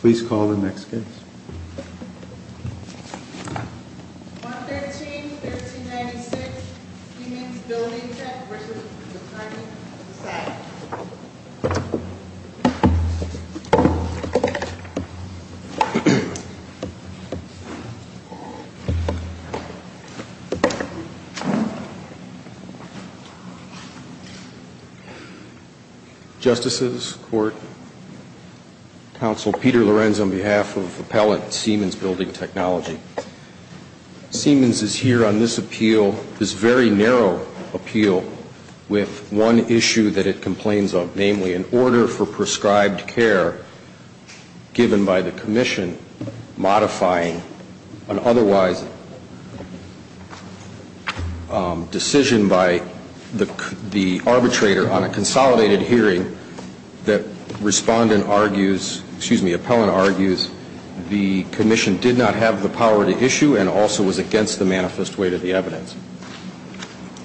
Please call the next case Justices Court Counsel Peter Lorenz on behalf of Appellant Siemens Building Technology Siemens is here on this appeal, this very narrow appeal with one issue that it complains of, namely an order for prescribed care given by the Commission, modifying an otherwise decision by the arbitrator on a consolidated hearing that Respondent argues, excuse me, Appellant argues the Commission did not have the power to issue and also was against the manifest weight of the evidence.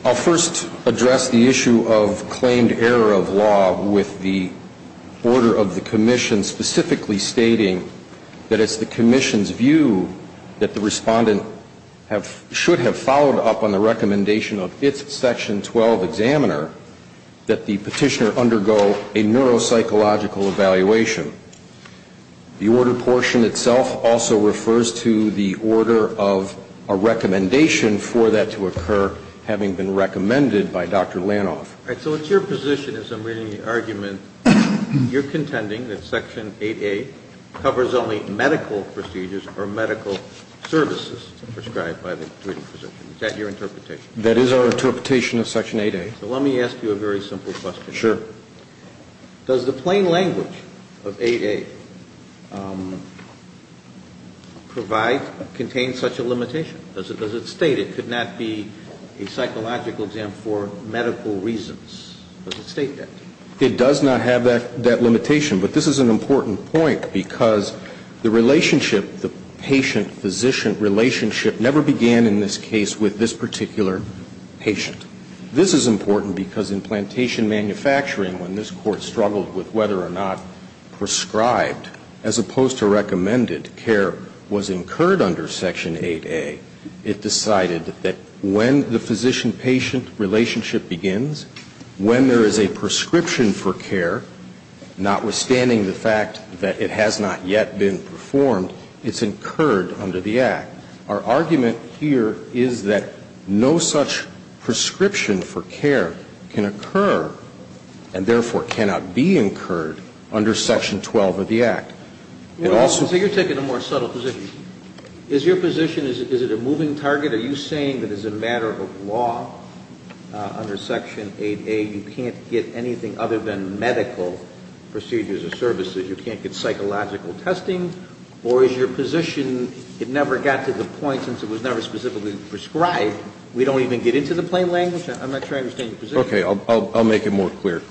I'll first address the issue of claimed error of law with the order of the Commission specifically stating that it's the Commission's view that the Respondent should have followed up on the recommendation of its Section 12 examiner that the Petitioner undergo a neuropsychological evaluation. The order portion itself also refers to the order of a recommendation for that to occur having been recommended by Dr. Lanoff. So it's your position as I'm reading the argument, you're contending that Section 8A covers only medical procedures or medical services prescribed by the treating physician. Is that your interpretation? That is our interpretation of Section 8A. So let me ask you a very simple question. Sure. Does the plain language of 8A provide, contain such a limitation? Does it state it could not be a psychological exam for medical reasons? Does it state that? It does not have that limitation. But this is an important point because the relationship, the patient-physician relationship never began in this case with this particular patient. This is important because in plantation manufacturing, when this Court struggled with whether or not prescribed as opposed to recommended care was incurred under Section 8A, it decided that when the physician-patient relationship begins, when there is a prescription for care, notwithstanding the fact that it has not yet been performed, it's incurred under the Act. Our argument here is that no such prescription for care can occur and therefore cannot be incurred under Section 12 of the Act. It also ---- So you're taking a more subtle position. Is your position, is it a moving target? Are you saying that as a matter of law under Section 8A, you can't get anything other than medical procedures or services? You can't get psychological testing? Or is your position it never got to the point since it was never specifically prescribed, we don't even get into the plain language? I'm not sure I understand your position. Okay. I'll make it more clear.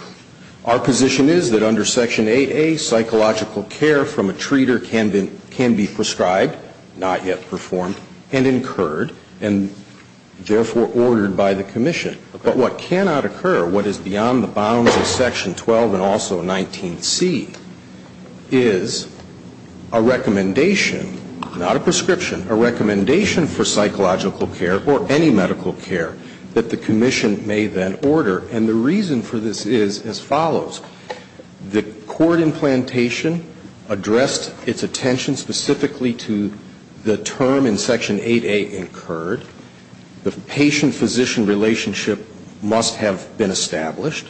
Our position is that under Section 8A, psychological care from a treater can be prescribed, not yet performed, and incurred, and therefore ordered by the commission. But what cannot occur, what is beyond the bounds of Section 12 and also 19C, is a recommendation, not a prescription, a recommendation for psychological care or any medical care that the commission may then order. And the reason for this is as follows. The court implantation addressed its attention specifically to the term in Section 8A, incurred. The patient-physician relationship must have been established.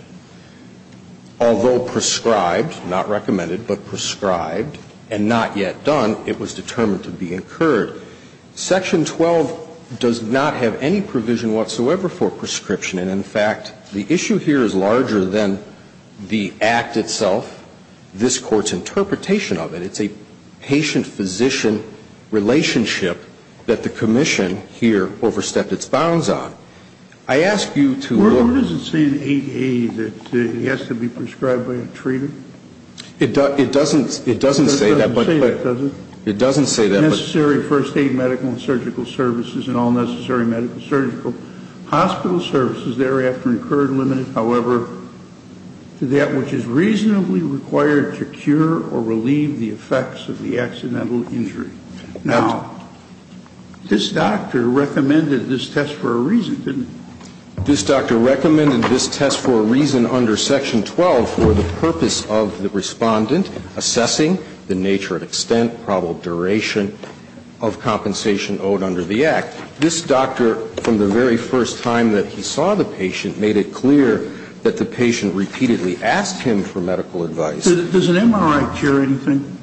Although prescribed, not recommended, but prescribed, and not yet done, it was determined to be incurred. Section 12 does not have any provision whatsoever for prescription. And in fact, the issue here is larger than the act itself, this Court's interpretation of it. It's a patient-physician relationship that the commission here overstepped its bounds on. I ask you to look. Well, doesn't it say in 8A that it has to be prescribed by a treater? It doesn't say that. It doesn't say that. It doesn't say that. But necessary first aid medical and surgical services and all necessary medical surgical hospital services thereafter incurred limited, however, to that which is reasonably required to cure or relieve the effects of the accidental injury. Now, this doctor recommended this test for a reason, didn't he? This doctor recommended this test for a reason under Section 12 for the purpose of the Respondent assessing the nature and extent, probable duration of compensation owed under the act. This doctor, from the very first time that he saw the patient, made it clear that the patient repeatedly asked him for medical advice. Does an MRI cure anything?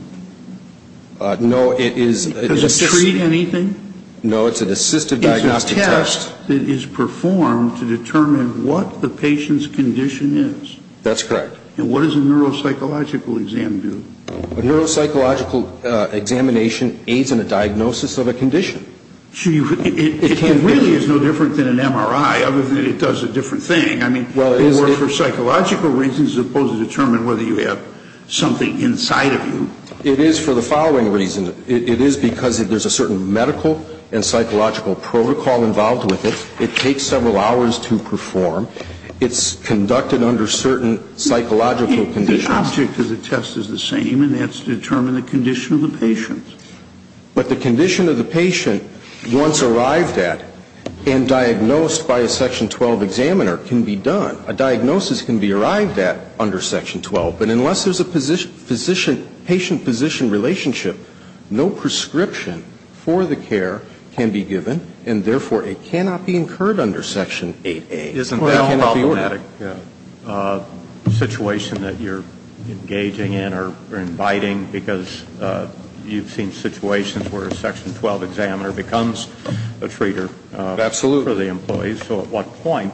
No. Does it treat anything? No. It's an assistive diagnostic test. It's a test that is performed to determine what the patient's condition is. That's correct. And what does a neuropsychological exam do? A neuropsychological examination aids in a diagnosis of a condition. It really is no different than an MRI, other than it does a different thing. I mean, it works for psychological reasons as opposed to determining whether you have something inside of you. It is for the following reason. It is because there's a certain medical and psychological protocol involved with it. It takes several hours to perform. It's conducted under certain psychological conditions. The object of the test is the same, and that's to determine the condition of the patient. But the condition of the patient, once arrived at and diagnosed by a Section 12 examiner, can be done. A diagnosis can be arrived at under Section 12. But unless there's a patient-physician relationship, no prescription for the care can be given, and therefore, it cannot be incurred under Section 8A. Isn't that problematic? Yeah. A situation that you're engaging in or inviting, because you've seen situations where a Section 12 examiner becomes a treater. Absolutely. So at what point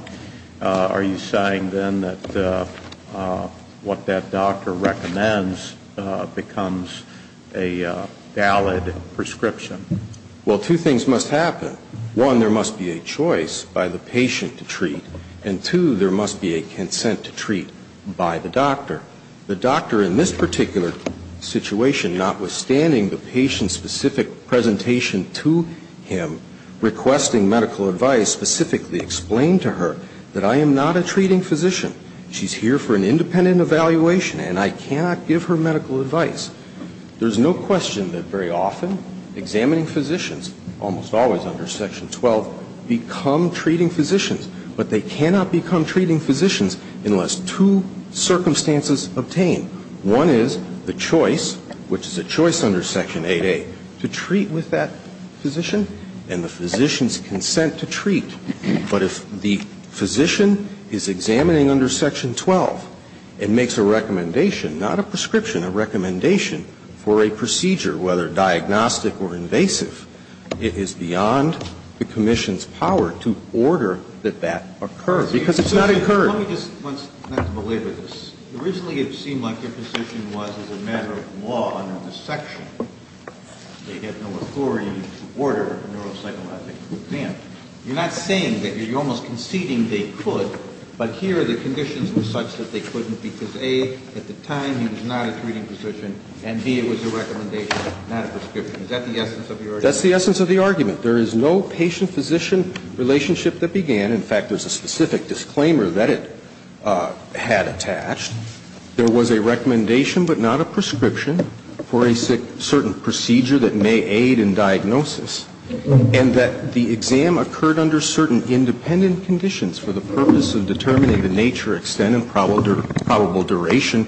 are you saying, then, that what that doctor recommends becomes a valid prescription? Well, two things must happen. One, there must be a choice by the patient to treat. And, two, there must be a consent to treat by the doctor. The doctor, in this particular situation, notwithstanding the patient's specific presentation to him requesting medical advice, specifically explained to her that I am not a treating physician. She's here for an independent evaluation, and I cannot give her medical advice. There's no question that, very often, examining physicians, almost always under Section 12, become treating physicians. But they cannot become treating physicians unless two circumstances obtain. One is the choice, which is a choice under Section 8A, to treat with that physician and the physician's consent to treat. But if the physician is examining under Section 12 and makes a recommendation, not a prescription, a recommendation for a procedure, whether diagnostic or invasive, it is beyond the commission's power to order that that occur, because it's not incurred. Let me just, not to belabor this. Originally, it seemed like your position was, as a matter of law, under this section, they had no authority to order a neuropsychological exam. You're not saying that you're almost conceding they could, but here the conditions were such that they couldn't because, A, at the time he was not a treating physician, and, B, it was a recommendation, not a prescription. Is that the essence of your argument? That's the essence of the argument. There is no patient-physician relationship that began. In fact, there's a specific disclaimer that it had attached. There was a recommendation, but not a prescription, for a certain procedure that may aid in diagnosis, and that the exam occurred under certain independent conditions for the purpose of determining the nature, extent, and probable duration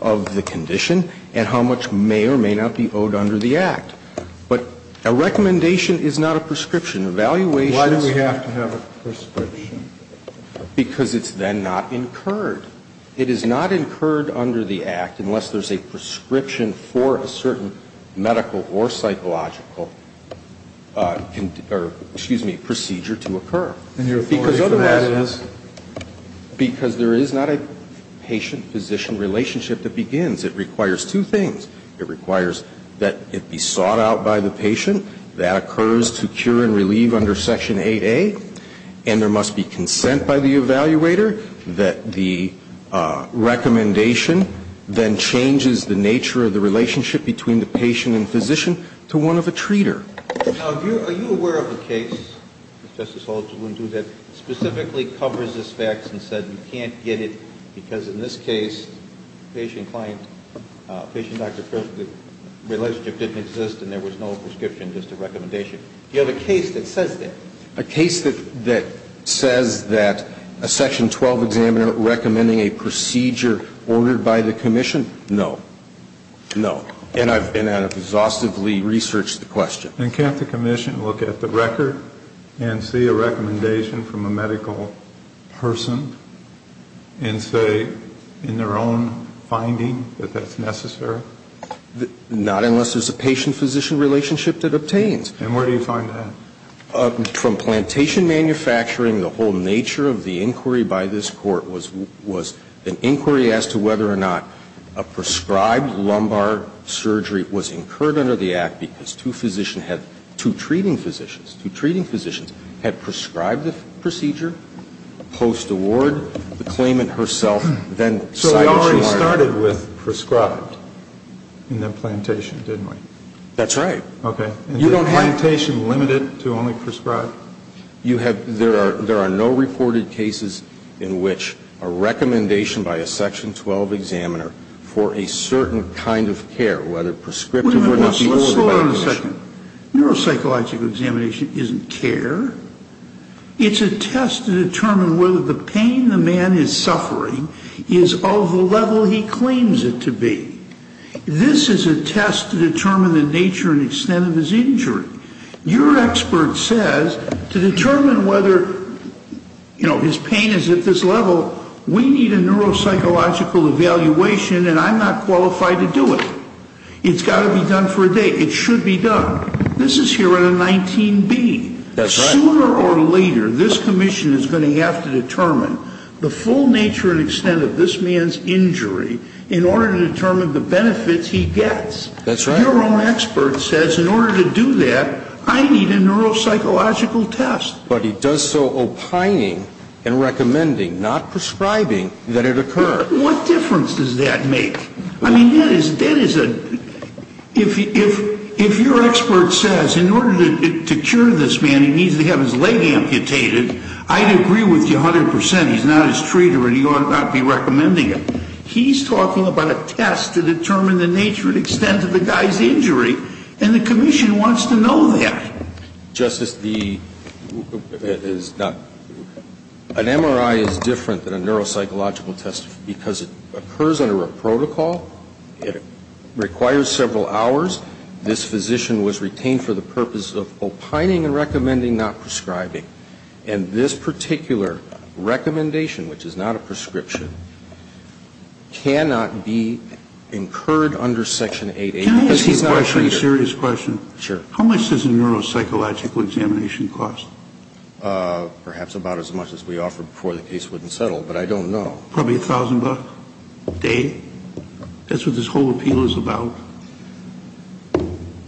of the condition and how much may or may not be owed under the Act. But a recommendation is not a prescription. Evaluation is not a prescription. Because it's then not incurred. It is not incurred under the Act unless there's a prescription for a certain medical or psychological procedure to occur. And your authority for that is? Because otherwise, because there is not a patient-physician relationship that begins. It requires two things. It requires that it be sought out by the patient, that occurs to cure and relieve under Section 8A, and there must be consent by the evaluator, that the recommendation then changes the nature of the relationship between the patient and physician to one of a treater. Now, are you aware of a case, Justice Alito, that specifically covers this fact and said you can't get it because in this case, patient-client, patient-doctor relationship didn't exist and there was no prescription, just a recommendation. Do you have a case that says that? A case that says that a Section 12 examiner recommending a procedure ordered by the commission? No. No. And I've exhaustively researched the question. And can't the commission look at the record and see a recommendation from a medical person and say in their own finding that that's necessary? Not unless there's a patient-physician relationship that obtains. And where do you find that? From plantation manufacturing. The whole nature of the inquiry by this Court was an inquiry as to whether or not a prescribed lumbar surgery was incurred under the Act because two physicians had, two treating physicians, two treating physicians had prescribed the procedure post-award, the claimant herself then cited she wanted. So it already started with prescribed in the plantation, didn't it? That's right. You don't have plantation limited to only prescribed. You have, there are no reported cases in which a recommendation by a Section 12 examiner for a certain kind of care, whether prescriptive or not. Wait a minute. Slow down a second. Neuropsychological examination isn't care. It's a test to determine whether the pain the man is suffering is of the level he claims it to be. This is a test to determine the nature and extent of his injury. Your expert says to determine whether, you know, his pain is at this level, we need a neuropsychological evaluation and I'm not qualified to do it. It's got to be done for a day. It should be done. This is here at a 19B. That's right. Sooner or later, this Commission is going to have to determine the full nature and extent of this man's injury in order to determine the benefits he gets. That's right. Your own expert says in order to do that, I need a neuropsychological test. But he does so opining and recommending, not prescribing, that it occur. What difference does that make? I mean, that is a, if your expert says in order to cure this man, he needs to have his leg amputated, I'd agree with you 100%. He's not his treater and he ought not be recommending it. He's talking about a test to determine the nature and extent of the guy's injury and the Commission wants to know that. Justice, the, it is not, an MRI is different than a neuropsychological test because it occurs under a protocol. It requires several hours. This physician was retained for the purpose of opining and recommending, not prescribing. And this particular recommendation, which is not a prescription, cannot be incurred under Section 880 because he's not a treater. Can I ask you a question, a serious question? Sure. How much does a neuropsychological examination cost? Perhaps about as much as we offered before the case wouldn't settle, but I don't know. Probably $1,000 a day? That's what this whole appeal is about?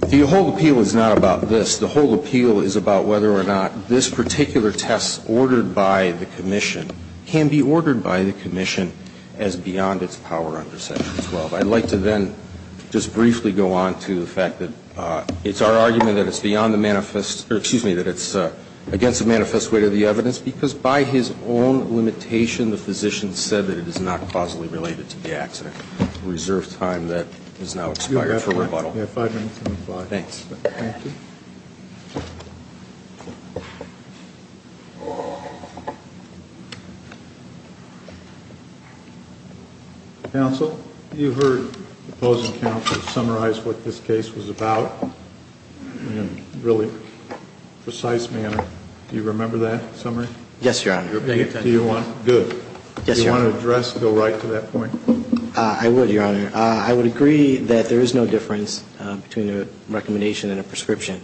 The whole appeal is not about this. The whole appeal is about whether or not this particular test ordered by the Commission can be ordered by the Commission as beyond its power under Section 12. I'd like to then just briefly go on to the fact that it's our argument that it's beyond the manifest, or excuse me, that it's against the manifest weight of the evidence because by his own limitation, the physician said that it is not causally related to the accident. Reserve time that has now expired for rebuttal. You have five minutes on the fly. Thanks. Thank you. Counsel, you heard the opposing counsel summarize what this case was about in a really precise manner. Do you remember that summary? Yes, Your Honor. Good. Yes, Your Honor. Do you want to address, go right to that point? I would, Your Honor. I would agree that there is no difference between a recommendation and a prescription.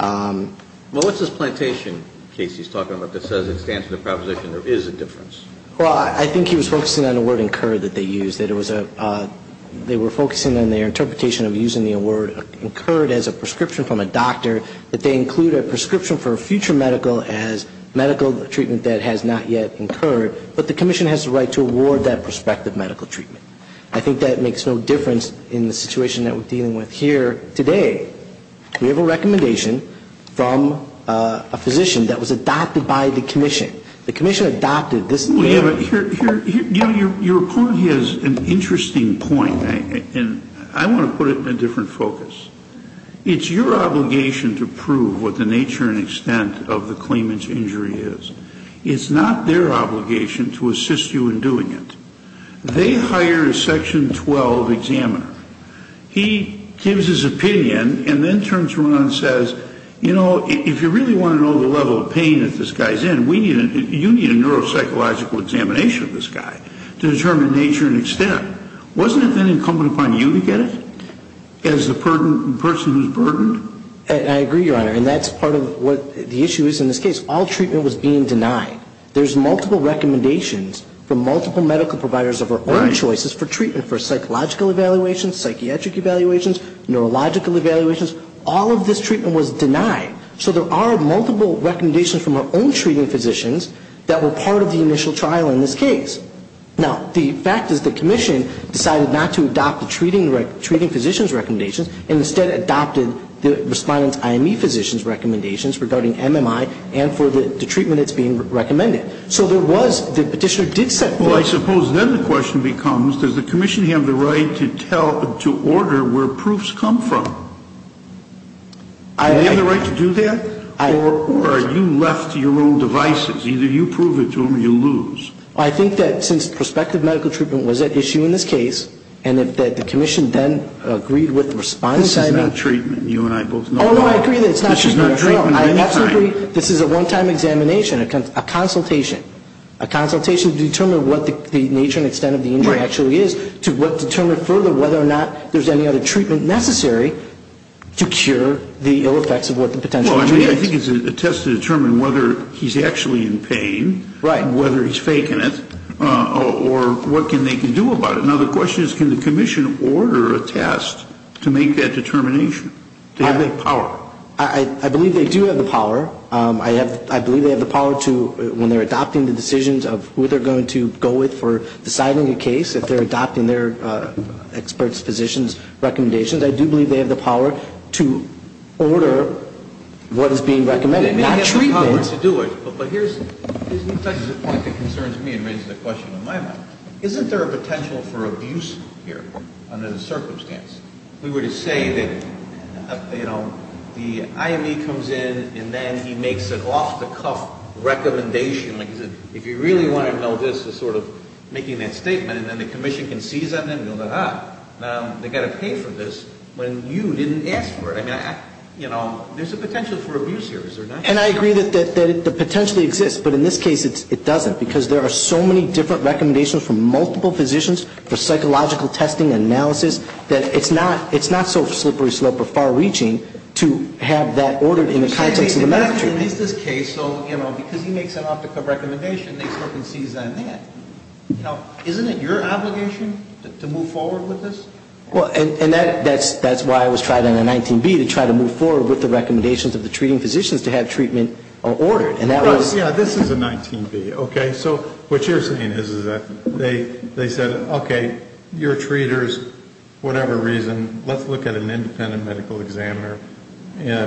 Well, what's this plantation case he's talking about that says it stands for the proposition there is a difference? Well, I think he was focusing on the word incurred that they used. They were focusing on their interpretation of using the word incurred as a prescription from a doctor, that they include a prescription for a future medical as medical treatment that has not yet incurred, but the Commission has the right to award that prospective medical treatment. I think that makes no difference in the situation that we're dealing with here today. We have a recommendation from a physician that was adopted by the Commission. The Commission adopted this. Well, you know, your opponent has an interesting point, and I want to put it in a different focus. It's your obligation to prove what the nature and extent of the claimant's injury is. It's not their obligation to assist you in doing it. They hire a Section 12 examiner. He gives his opinion and then turns around and says, you know, if you really want to know the level of pain that this guy's in, you need a neuropsychological examination of this guy to determine nature and extent. Wasn't it then incumbent upon you to get it as the person who's burdened? I agree, Your Honor, and that's part of what the issue is in this case. All treatment was being denied. There's multiple recommendations from multiple medical providers of our own choices for treatment for psychological evaluations, psychiatric evaluations, neurological evaluations. All of this treatment was denied. So there are multiple recommendations from our own treating physicians that were part of the initial trial in this case. Now, the fact is the Commission decided not to adopt the treating physician's recommendations and instead adopted the respondent's IME physician's recommendations regarding MMI and for the treatment of this patient. So there was, the Petitioner did set forth... Well, I suppose then the question becomes, does the Commission have the right to tell, to order where proofs come from? Do they have the right to do that? Or are you left to your own devices? Either you prove it to them or you lose. I think that since prospective medical treatment was at issue in this case and that the Commission then agreed with the respondent's IME... This is not treatment. You and I both know that. Oh, no, I agree that it's not treatment at all. It's a consultation. A consultation to determine what the nature and extent of the injury actually is to determine further whether or not there's any other treatment necessary to cure the ill effects of what the potential injury is. Well, I mean, I think it's a test to determine whether he's actually in pain, whether he's faking it, or what they can do about it. Now, the question is, can the Commission order a test to make that determination? Do they have the power? I believe they do have the power. I believe they have the power to, when they're adopting the decisions of who they're going to go with for deciding a case, if they're adopting their experts, physicians' recommendations, I do believe they have the power to order what is being recommended, not treatment. They may have the power to do it, but here's the point that concerns me and raises a question in my mind. Isn't there a potential for abuse here under the circumstance? If we were to say that, you know, the IME comes in, and then he makes an off-the-cuff recommendation, like he said, if you really want to know this, to sort of making that statement, and then the Commission can seize on him, you'll go, ah, they've got to pay for this when you didn't ask for it. I mean, you know, there's a potential for abuse here, is there not? And I agree that it potentially exists, but in this case it doesn't, because there are so many different recommendations from multiple physicians for psychological testing and analysis, that it's not so slippery slope or far-reaching to have that ordered in the context of the matter. In this case, though, you know, because he makes an off-the-cuff recommendation, they sort of seize on that. Now, isn't it your obligation to move forward with this? Well, and that's why I was trying on the 19B, to try to move forward with the recommendations of the treating physicians to have treatment ordered. Well, yeah, this is a 19B, okay? So what you're saying is that they said, okay, you're treaters, whatever reason, let's look at an independent medical examiner,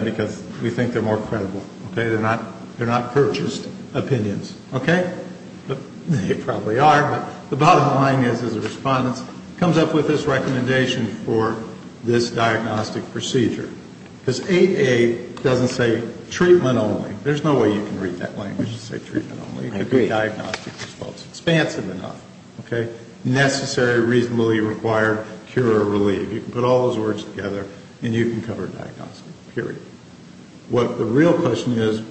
because we think they're more credible, okay? They're not purchased opinions, okay? They probably are, but the bottom line is, as a respondent, comes up with this recommendation for this diagnostic procedure. Because 8A doesn't say treatment only. There's no way you can read that language to say treatment only. Diagnostic response, expansive enough, okay? Necessary, reasonably required, cure or relieve. You can put all those words together, and you can cover diagnostic, period. What the real question is,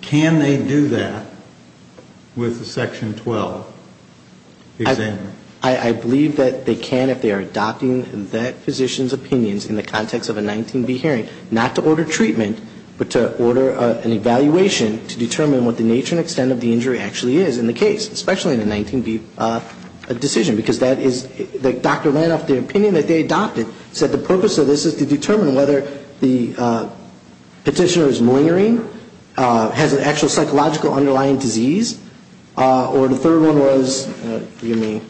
can they do that with a Section 12 examiner? I believe that they can if they are adopting that physician's opinions in the context of a 19B hearing, not to say the injury actually is in the case, especially in a 19B decision, because that is, the doctor ran off the opinion that they adopted, said the purpose of this is to determine whether the petitioner is malingering, has an actual psychological underlying disease, or the third one was, forgive me,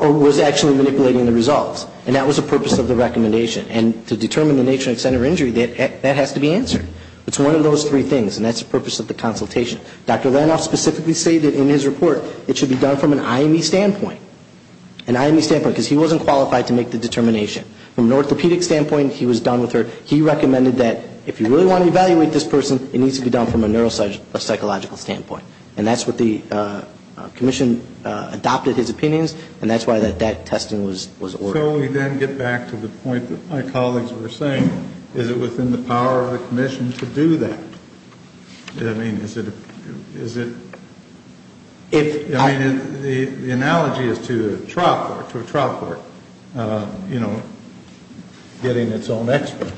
or was actually manipulating the results. And that was the purpose of the recommendation. And to determine the nature and extent of injury, that has to be answered. It's one of those three things, and that's the purpose of the consultation. Dr. Ranoff specifically stated in his report, it should be done from an IME standpoint. An IME standpoint, because he wasn't qualified to make the determination. From an orthopedic standpoint, he was done with her. He recommended that if you really want to evaluate this person, it needs to be done from a neuropsychological standpoint. And that's what the commission adopted his opinions, and that's why that testing was ordered. So we then get back to the point that my colleagues were saying. Is it within the power of the commission to do that? I mean, is it, is it, I mean, the analogy is to a trial court, you know, getting its own expert.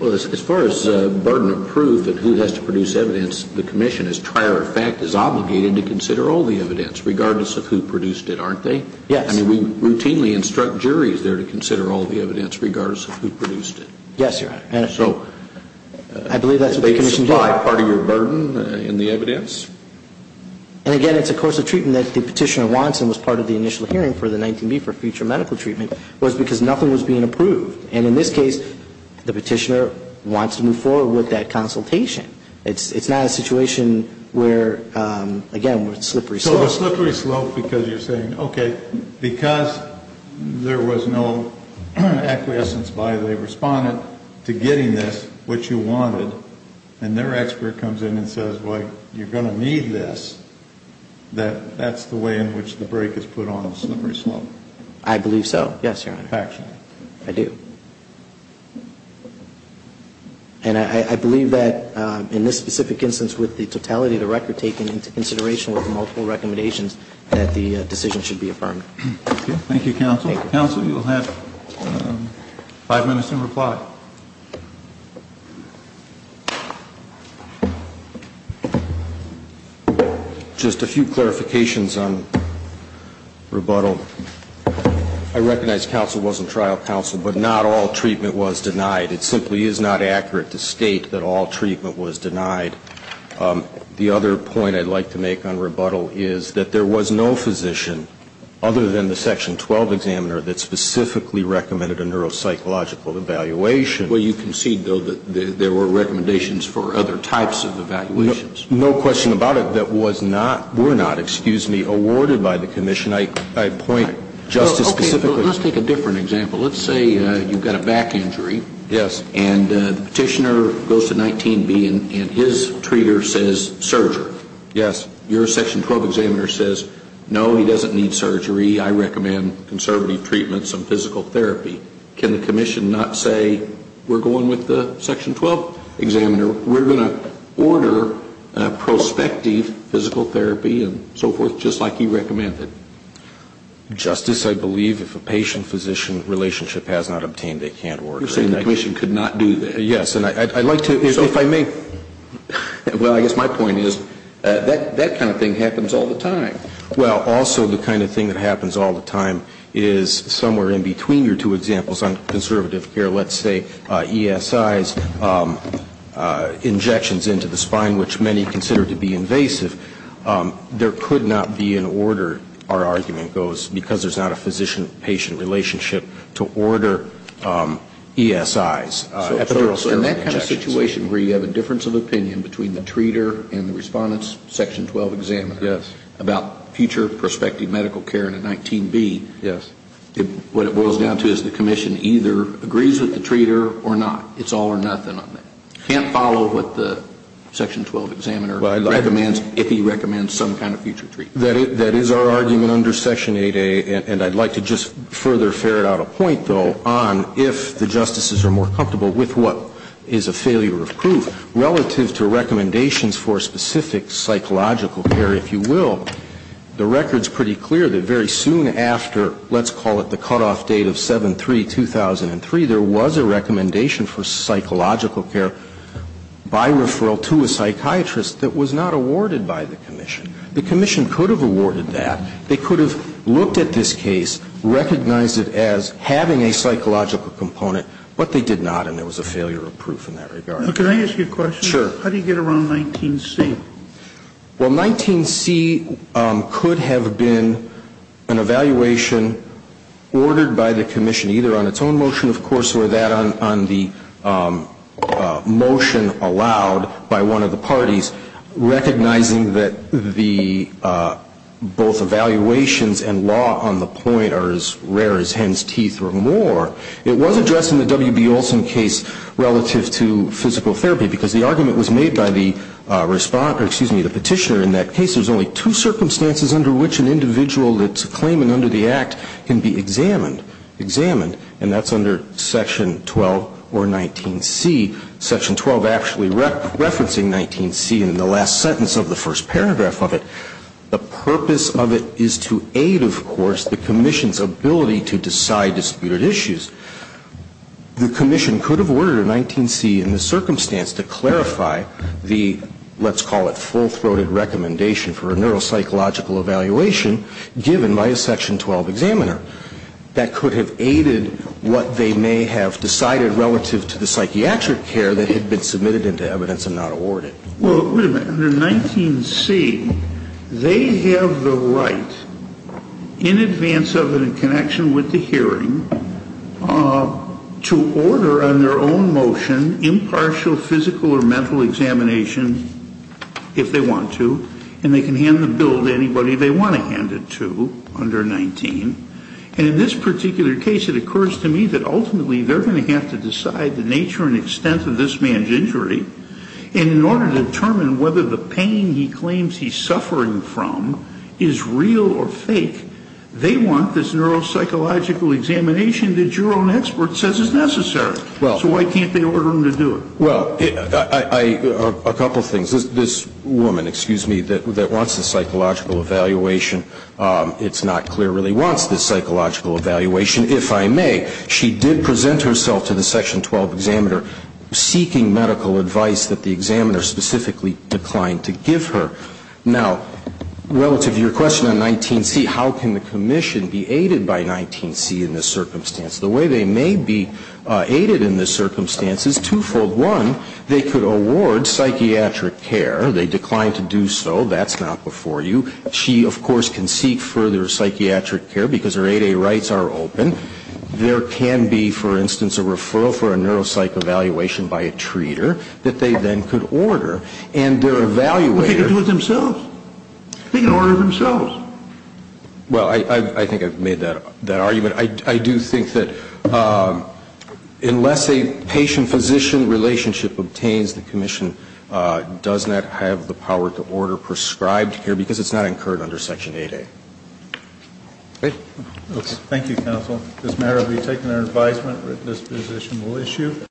Well, as far as burden of proof and who has to produce evidence, the commission, as prior fact, is obligated to consider all the evidence, regardless of who produced it, aren't they? Yes. I mean, we routinely instruct juries there to consider all the evidence, regardless of who produced it. Yes, Your Honor. So. I believe that's what the commission did. Part of your burden in the evidence? And again, it's a course of treatment that the petitioner wants, and was part of the initial hearing for the 19B for future medical treatment, was because nothing was being approved. And in this case, the petitioner wants to move forward with that consultation. It's not a situation where, again, with slippery slopes. So a slippery slope because you're saying, okay, because there was no acquiescence by the respondent to getting this, which you wanted, and their expert comes in and says, well, you're going to need this, that that's the way in which the break is put on a slippery slope. I believe so. Yes, Your Honor. Actually. I do. And I believe that in this specific instance, with the totality of the record taken into consideration with the multiple recommendations, that the decision should be affirmed. Thank you, counsel. Counsel, you'll have five minutes to reply. Just a few clarifications on rebuttal. I recognize counsel wasn't trial counsel, but not all treatment was denied. It simply is not accurate to state that all treatment was denied. The other point I'd like to make on rebuttal is that there was no physician, other than the Section 12 examiner, that specifically recommended a neuropsychological evaluation. Well, you concede, though, that there were recommendations for other types of evaluations. No question about it. That was not, were not, excuse me, awarded by the commission. I point just to specifically. Okay. Let's take a different example. Let's say you've got a back injury. Yes. And the petitioner goes to 19B and his treater says surgery. Yes. Your Section 12 examiner says, no, he doesn't need surgery. I recommend conservative treatments and physical therapy. Can the commission not say we're going with the Section 12 examiner? We're going to order prospective physical therapy and so forth, just like he recommended. Justice, I believe if a patient-physician relationship has not obtained, they can't order. You're saying the commission could not do that? Yes. And I'd like to, if I may. Well, I guess my point is that kind of thing happens all the time. Well, also the kind of thing that happens all the time is somewhere in between your two examples on conservative care. Let's say ESIs, injections into the spine, which many consider to be invasive. There could not be an order, our argument goes, because there's not a physician-patient relationship to order ESIs. So in that kind of situation where you have a difference of opinion between the treater and the respondent's Section 12 examiner. Yes. About future prospective medical care in a 19B. Yes. What it boils down to is the commission either agrees with the treater or not. It's all or nothing on that. Can't follow what the Section 12 examiner recommends if he recommends some kind of future treatment. That is our argument under Section 8A, and I'd like to just further ferret out a point, though, on if the justices are more comfortable with what is a failure of proof relative to recommendations for specific psychological care, if you will. The record's pretty clear that very soon after, let's call it the cutoff date of 7-3-2003, there was a recommendation for psychological care by referral to a psychiatrist that was not awarded by the commission. The commission could have awarded that. They could have looked at this case, recognized it as having a psychological component, but they did not, and there was a failure of proof in that regard. Now, can I ask you a question? Sure. How do you get around 19C? Well, 19C could have been an evaluation ordered by the commission either on its own motion, of course, or that on the motion allowed by one of the parties, recognizing that the both evaluations and law on the point are as rare as hen's teeth or more. It was addressed in the W.B. Olson case relative to physical therapy, because the argument was made by the petitioner in that case, there's only two circumstances under which an individual that's claiming under the Act can be examined. And that's under Section 12 or 19C. Section 12 actually referencing 19C in the last sentence of the first paragraph of it. The purpose of it is to aid, of course, the commission's ability to decide disputed issues. The commission could have ordered a 19C in the circumstance to clarify the, let's call it, full-throated recommendation for a neuropsychological evaluation given by a Section 12 examiner. That could have aided what they may have decided relative to the psychiatric care that had been submitted into evidence and not awarded. Well, wait a minute. Under 19C, they have the right, in advance of and in connection with the hearing, to order on their own motion impartial physical or mental examination if they want to, and they can hand the bill to anybody they want to hand it to under 19. And in this particular case, it occurs to me that ultimately they're going to have to decide the nature and extent of this man's injury. And in order to determine whether the pain he claims he's suffering from is real or fake, they want this neuropsychological examination that your own expert says is necessary. So why can't they order him to do it? Well, a couple of things. This woman, excuse me, that wants the psychological evaluation, it's not clear really wants the psychological evaluation. She did present herself to the Section 12 examiner seeking medical advice that the examiner specifically declined to give her. Now, relative to your question on 19C, how can the commission be aided by 19C in this circumstance? The way they may be aided in this circumstance is twofold. One, they could award psychiatric care. They declined to do so. That's not before you. Two, she, of course, can seek further psychiatric care because her 8A rights are open. There can be, for instance, a referral for a neuropsych evaluation by a treater that they then could order. And their evaluator can do it themselves. They can order it themselves. Well, I think I've made that argument. I do think that unless a patient-physician relationship obtains, does not have the power to order prescribed care because it's not incurred under Section 8A. Okay. Thank you, counsel. This matter will be taken under advisement. This position will issue.